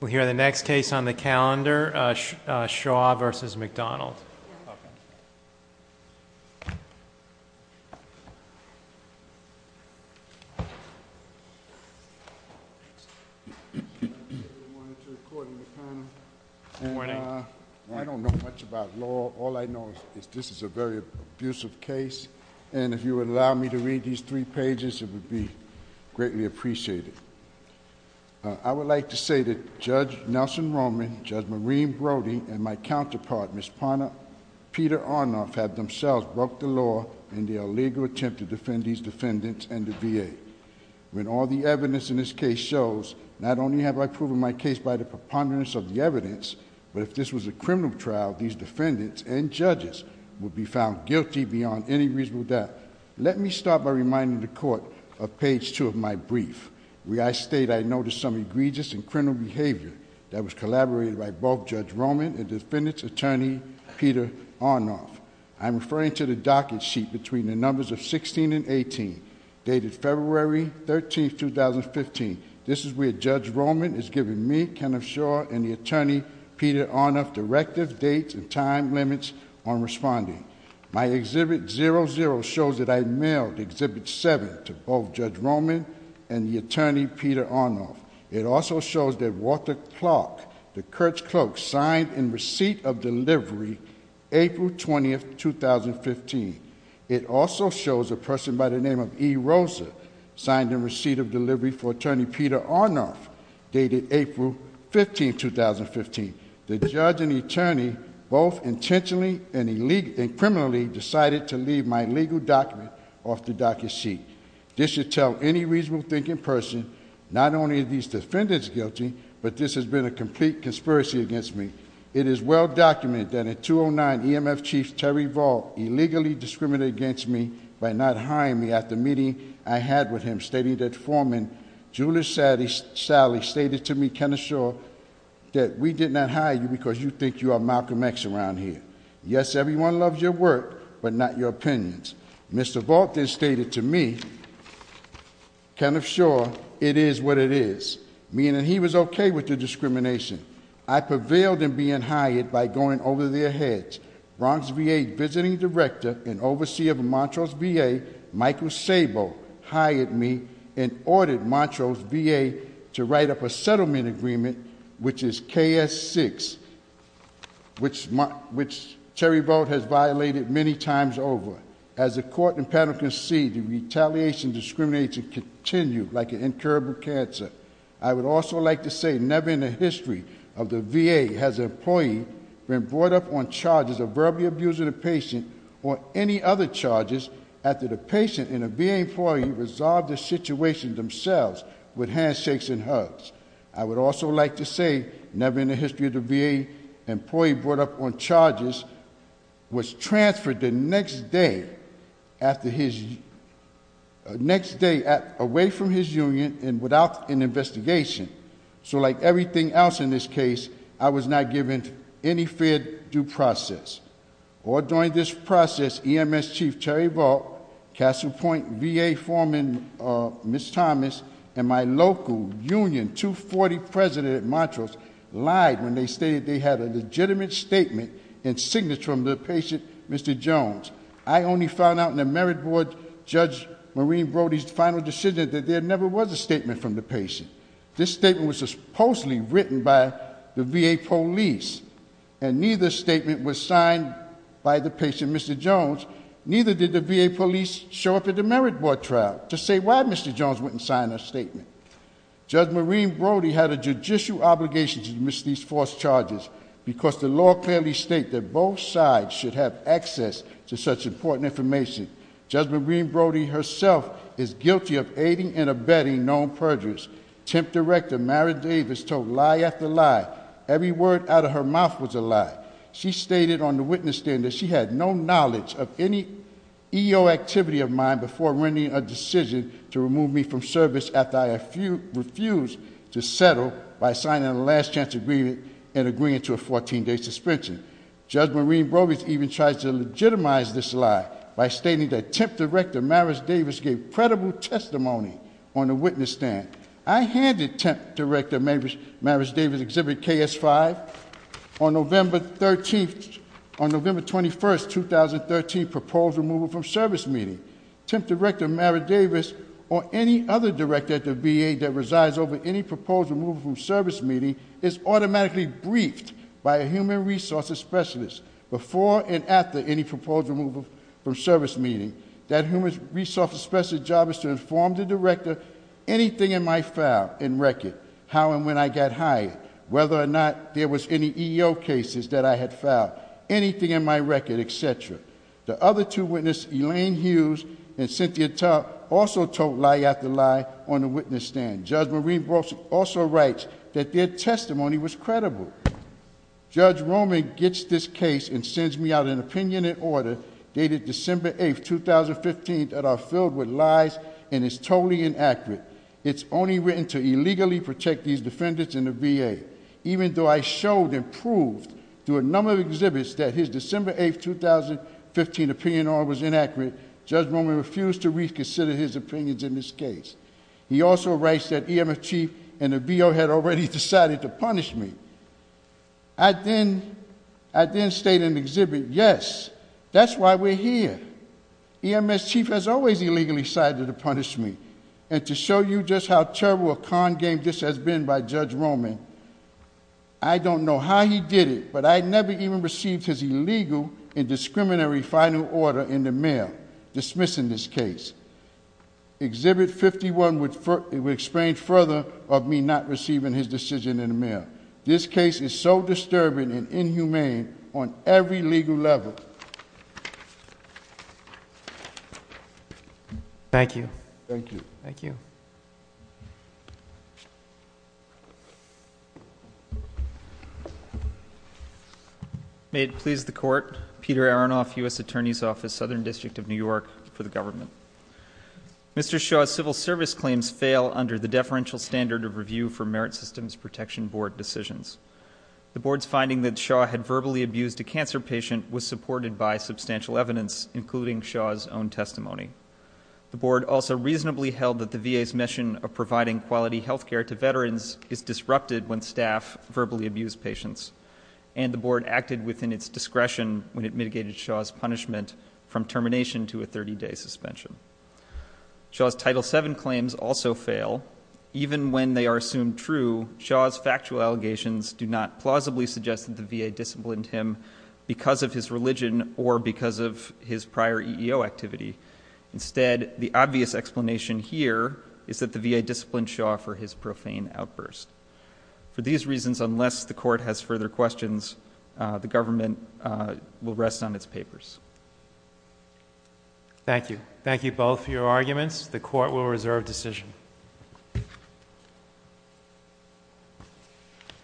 We'll hear the next case on the calendar, Shaw v. McDonald. Good morning. I don't know much about law. All I know is this is a very abusive case. And if you would allow me to read these three pages, it would be greatly appreciated. I would like to say that Judge Nelson Roman, Judge Maureen Brody, and my counterpart, Ms. Peter Arnoff, have themselves broke the law in their illegal attempt to defend these defendants and the VA. When all the evidence in this case shows, not only have I proven my case by the preponderance of the evidence, but if this was a criminal trial, these defendants and judges would be found guilty beyond any reasonable doubt. Let me start by reminding the court of page two of my brief, where I state I noticed some egregious and criminal behavior that was collaborated by both Judge Roman and defendant's attorney, Peter Arnoff. I'm referring to the docket sheet between the numbers of 16 and 18, dated February 13, 2015. This is where Judge Roman is giving me, Kenneth Shaw, and the attorney, Peter Arnoff, directive, dates, and time limits on responding. My Exhibit 00 shows that I mailed Exhibit 7 to both Judge Roman and the attorney, Peter Arnoff. It also shows that Walter Clark, the court's clerk, signed in receipt of delivery April 20, 2015. It also shows a person by the name of E. Rosa signed in receipt of delivery for attorney, Peter Arnoff, dated April 15, 2015. The judge and attorney both intentionally and criminally decided to leave my legal document off the docket sheet. This should tell any reasonable thinking person, not only are these defendants guilty, but this has been a complete conspiracy against me. It is well documented that a 209 EMF chief, Terry Vaughn, illegally discriminated against me by not hiring me at the meeting I had with him, stating that foreman, Julius Sally, stated to me, Kenneth Shaw, that we did not hire you because you think you are Malcolm X around here. Yes, everyone loves your work, but not your opinions. Mr. Vaught then stated to me, Kenneth Shaw, it is what it is, meaning he was okay with the discrimination. I prevailed in being hired by going over their heads. Bronx VA visiting director and overseer of Montrose VA, Michael Sabo, hired me and ordered Montrose VA to write up a settlement agreement, which is KS6, which Terry Vaught has violated many times over. As the court and panel concede, the retaliation discrimination continue like an incurable cancer. I would also like to say, never in the history of the VA has an employee been brought up on charges of verbally abusing a patient or any other charges after the patient and a VA employee resolved the situation themselves with handshakes and hugs. I would also like to say, never in the history of the VA employee brought up on charges was transferred the next day away from his union and without an investigation, so like everything else in this case, I was not given any fair due process. Or during this process, EMS Chief Terry Vaught, Castle Point VA Foreman Ms. Thomas, and my local union, 240 president at Montrose, lied when they stated they had a legitimate statement and signature from the patient, Mr. Jones. I only found out in the merit board, Judge Maureen Brody's final decision that there never was a statement from the patient. This statement was supposedly written by the VA police, and neither statement was signed by the patient, Mr. Jones, neither did the VA police show up at the merit board trial to say why Mr. Jones wouldn't sign a statement. Judge Maureen Brody had a judicial obligation to admit these false charges, because the law clearly states that both sides should have access to such important information. Judge Maureen Brody herself is guilty of aiding and abetting known perjuries. Temp Director, Mary Davis, told lie after lie, every word out of her mouth was a lie. She stated on the witness stand that she had no knowledge of any EO activity of mine before rendering a decision to remove me from service after I refused to settle by signing a last chance agreement and agreeing to a 14 day suspension. Judge Maureen Brody even tries to legitimize this lie by stating that temp director, Maris Davis, gave credible testimony on the witness stand. I handed temp director, Maris Davis, exhibit KS5 on November 13th. On November 21st, 2013, proposed removal from service meeting. Temp director, Maris Davis, or any other director at the VA that resides over any proposed removal from service meeting, is automatically briefed by a human resources specialist before and after any proposed removal from service meeting. That human resources specialist's job is to inform the director anything in my file and record. How and when I got hired, whether or not there was any EO cases that I had filed, anything in my record, etc. The other two witnesses, Elaine Hughes and Cynthia Tuck, also told lie after lie on the witness stand. Judge Maureen Brody also writes that their testimony was credible. Judge Roman gets this case and sends me out an opinion and order dated December 8th, 2015 that are filled with lies and is totally inaccurate. It's only written to illegally protect these defendants in the VA. Even though I showed and proved through a number of exhibits that his December 8th, 2015 opinion order was inaccurate, Judge Roman refused to reconsider his opinions in this case. He also writes that EMS chief and the BO had already decided to punish me. I then state in the exhibit, yes, that's why we're here. EMS chief has always illegally decided to punish me. And to show you just how terrible a con game this has been by Judge Roman, I don't know how he did it, but I never even received his illegal and discriminatory final order in the mail dismissing this case. Exhibit 51 would explain further of me not receiving his decision in the mail. This case is so disturbing and inhumane on every legal level. Thank you. Thank you. May it please the court, Peter Aronoff, US Attorney's Office, Southern District of New York, for the government. Mr. Shaw's civil service claims fail under the deferential standard of review for Merit Systems Protection Board decisions. The board's finding that Shaw had verbally abused a cancer patient was supported by substantial evidence, including Shaw's own testimony. The board also reasonably held that the VA's mission of providing quality health care to veterans is disrupted when staff verbally abuse patients. And the board acted within its discretion when it mitigated Shaw's punishment from termination to a 30 day suspension. Shaw's Title VII claims also fail. Even when they are assumed true, Shaw's factual allegations do not plausibly suggest that the VA disciplined him because of his religion or because of his prior EEO activity. Instead, the obvious explanation here is that the VA disciplined Shaw for his profane outburst. For these reasons, unless the court has further questions, the government will rest on its papers. Thank you. Thank you both for your arguments. The court will reserve decision. Thank you.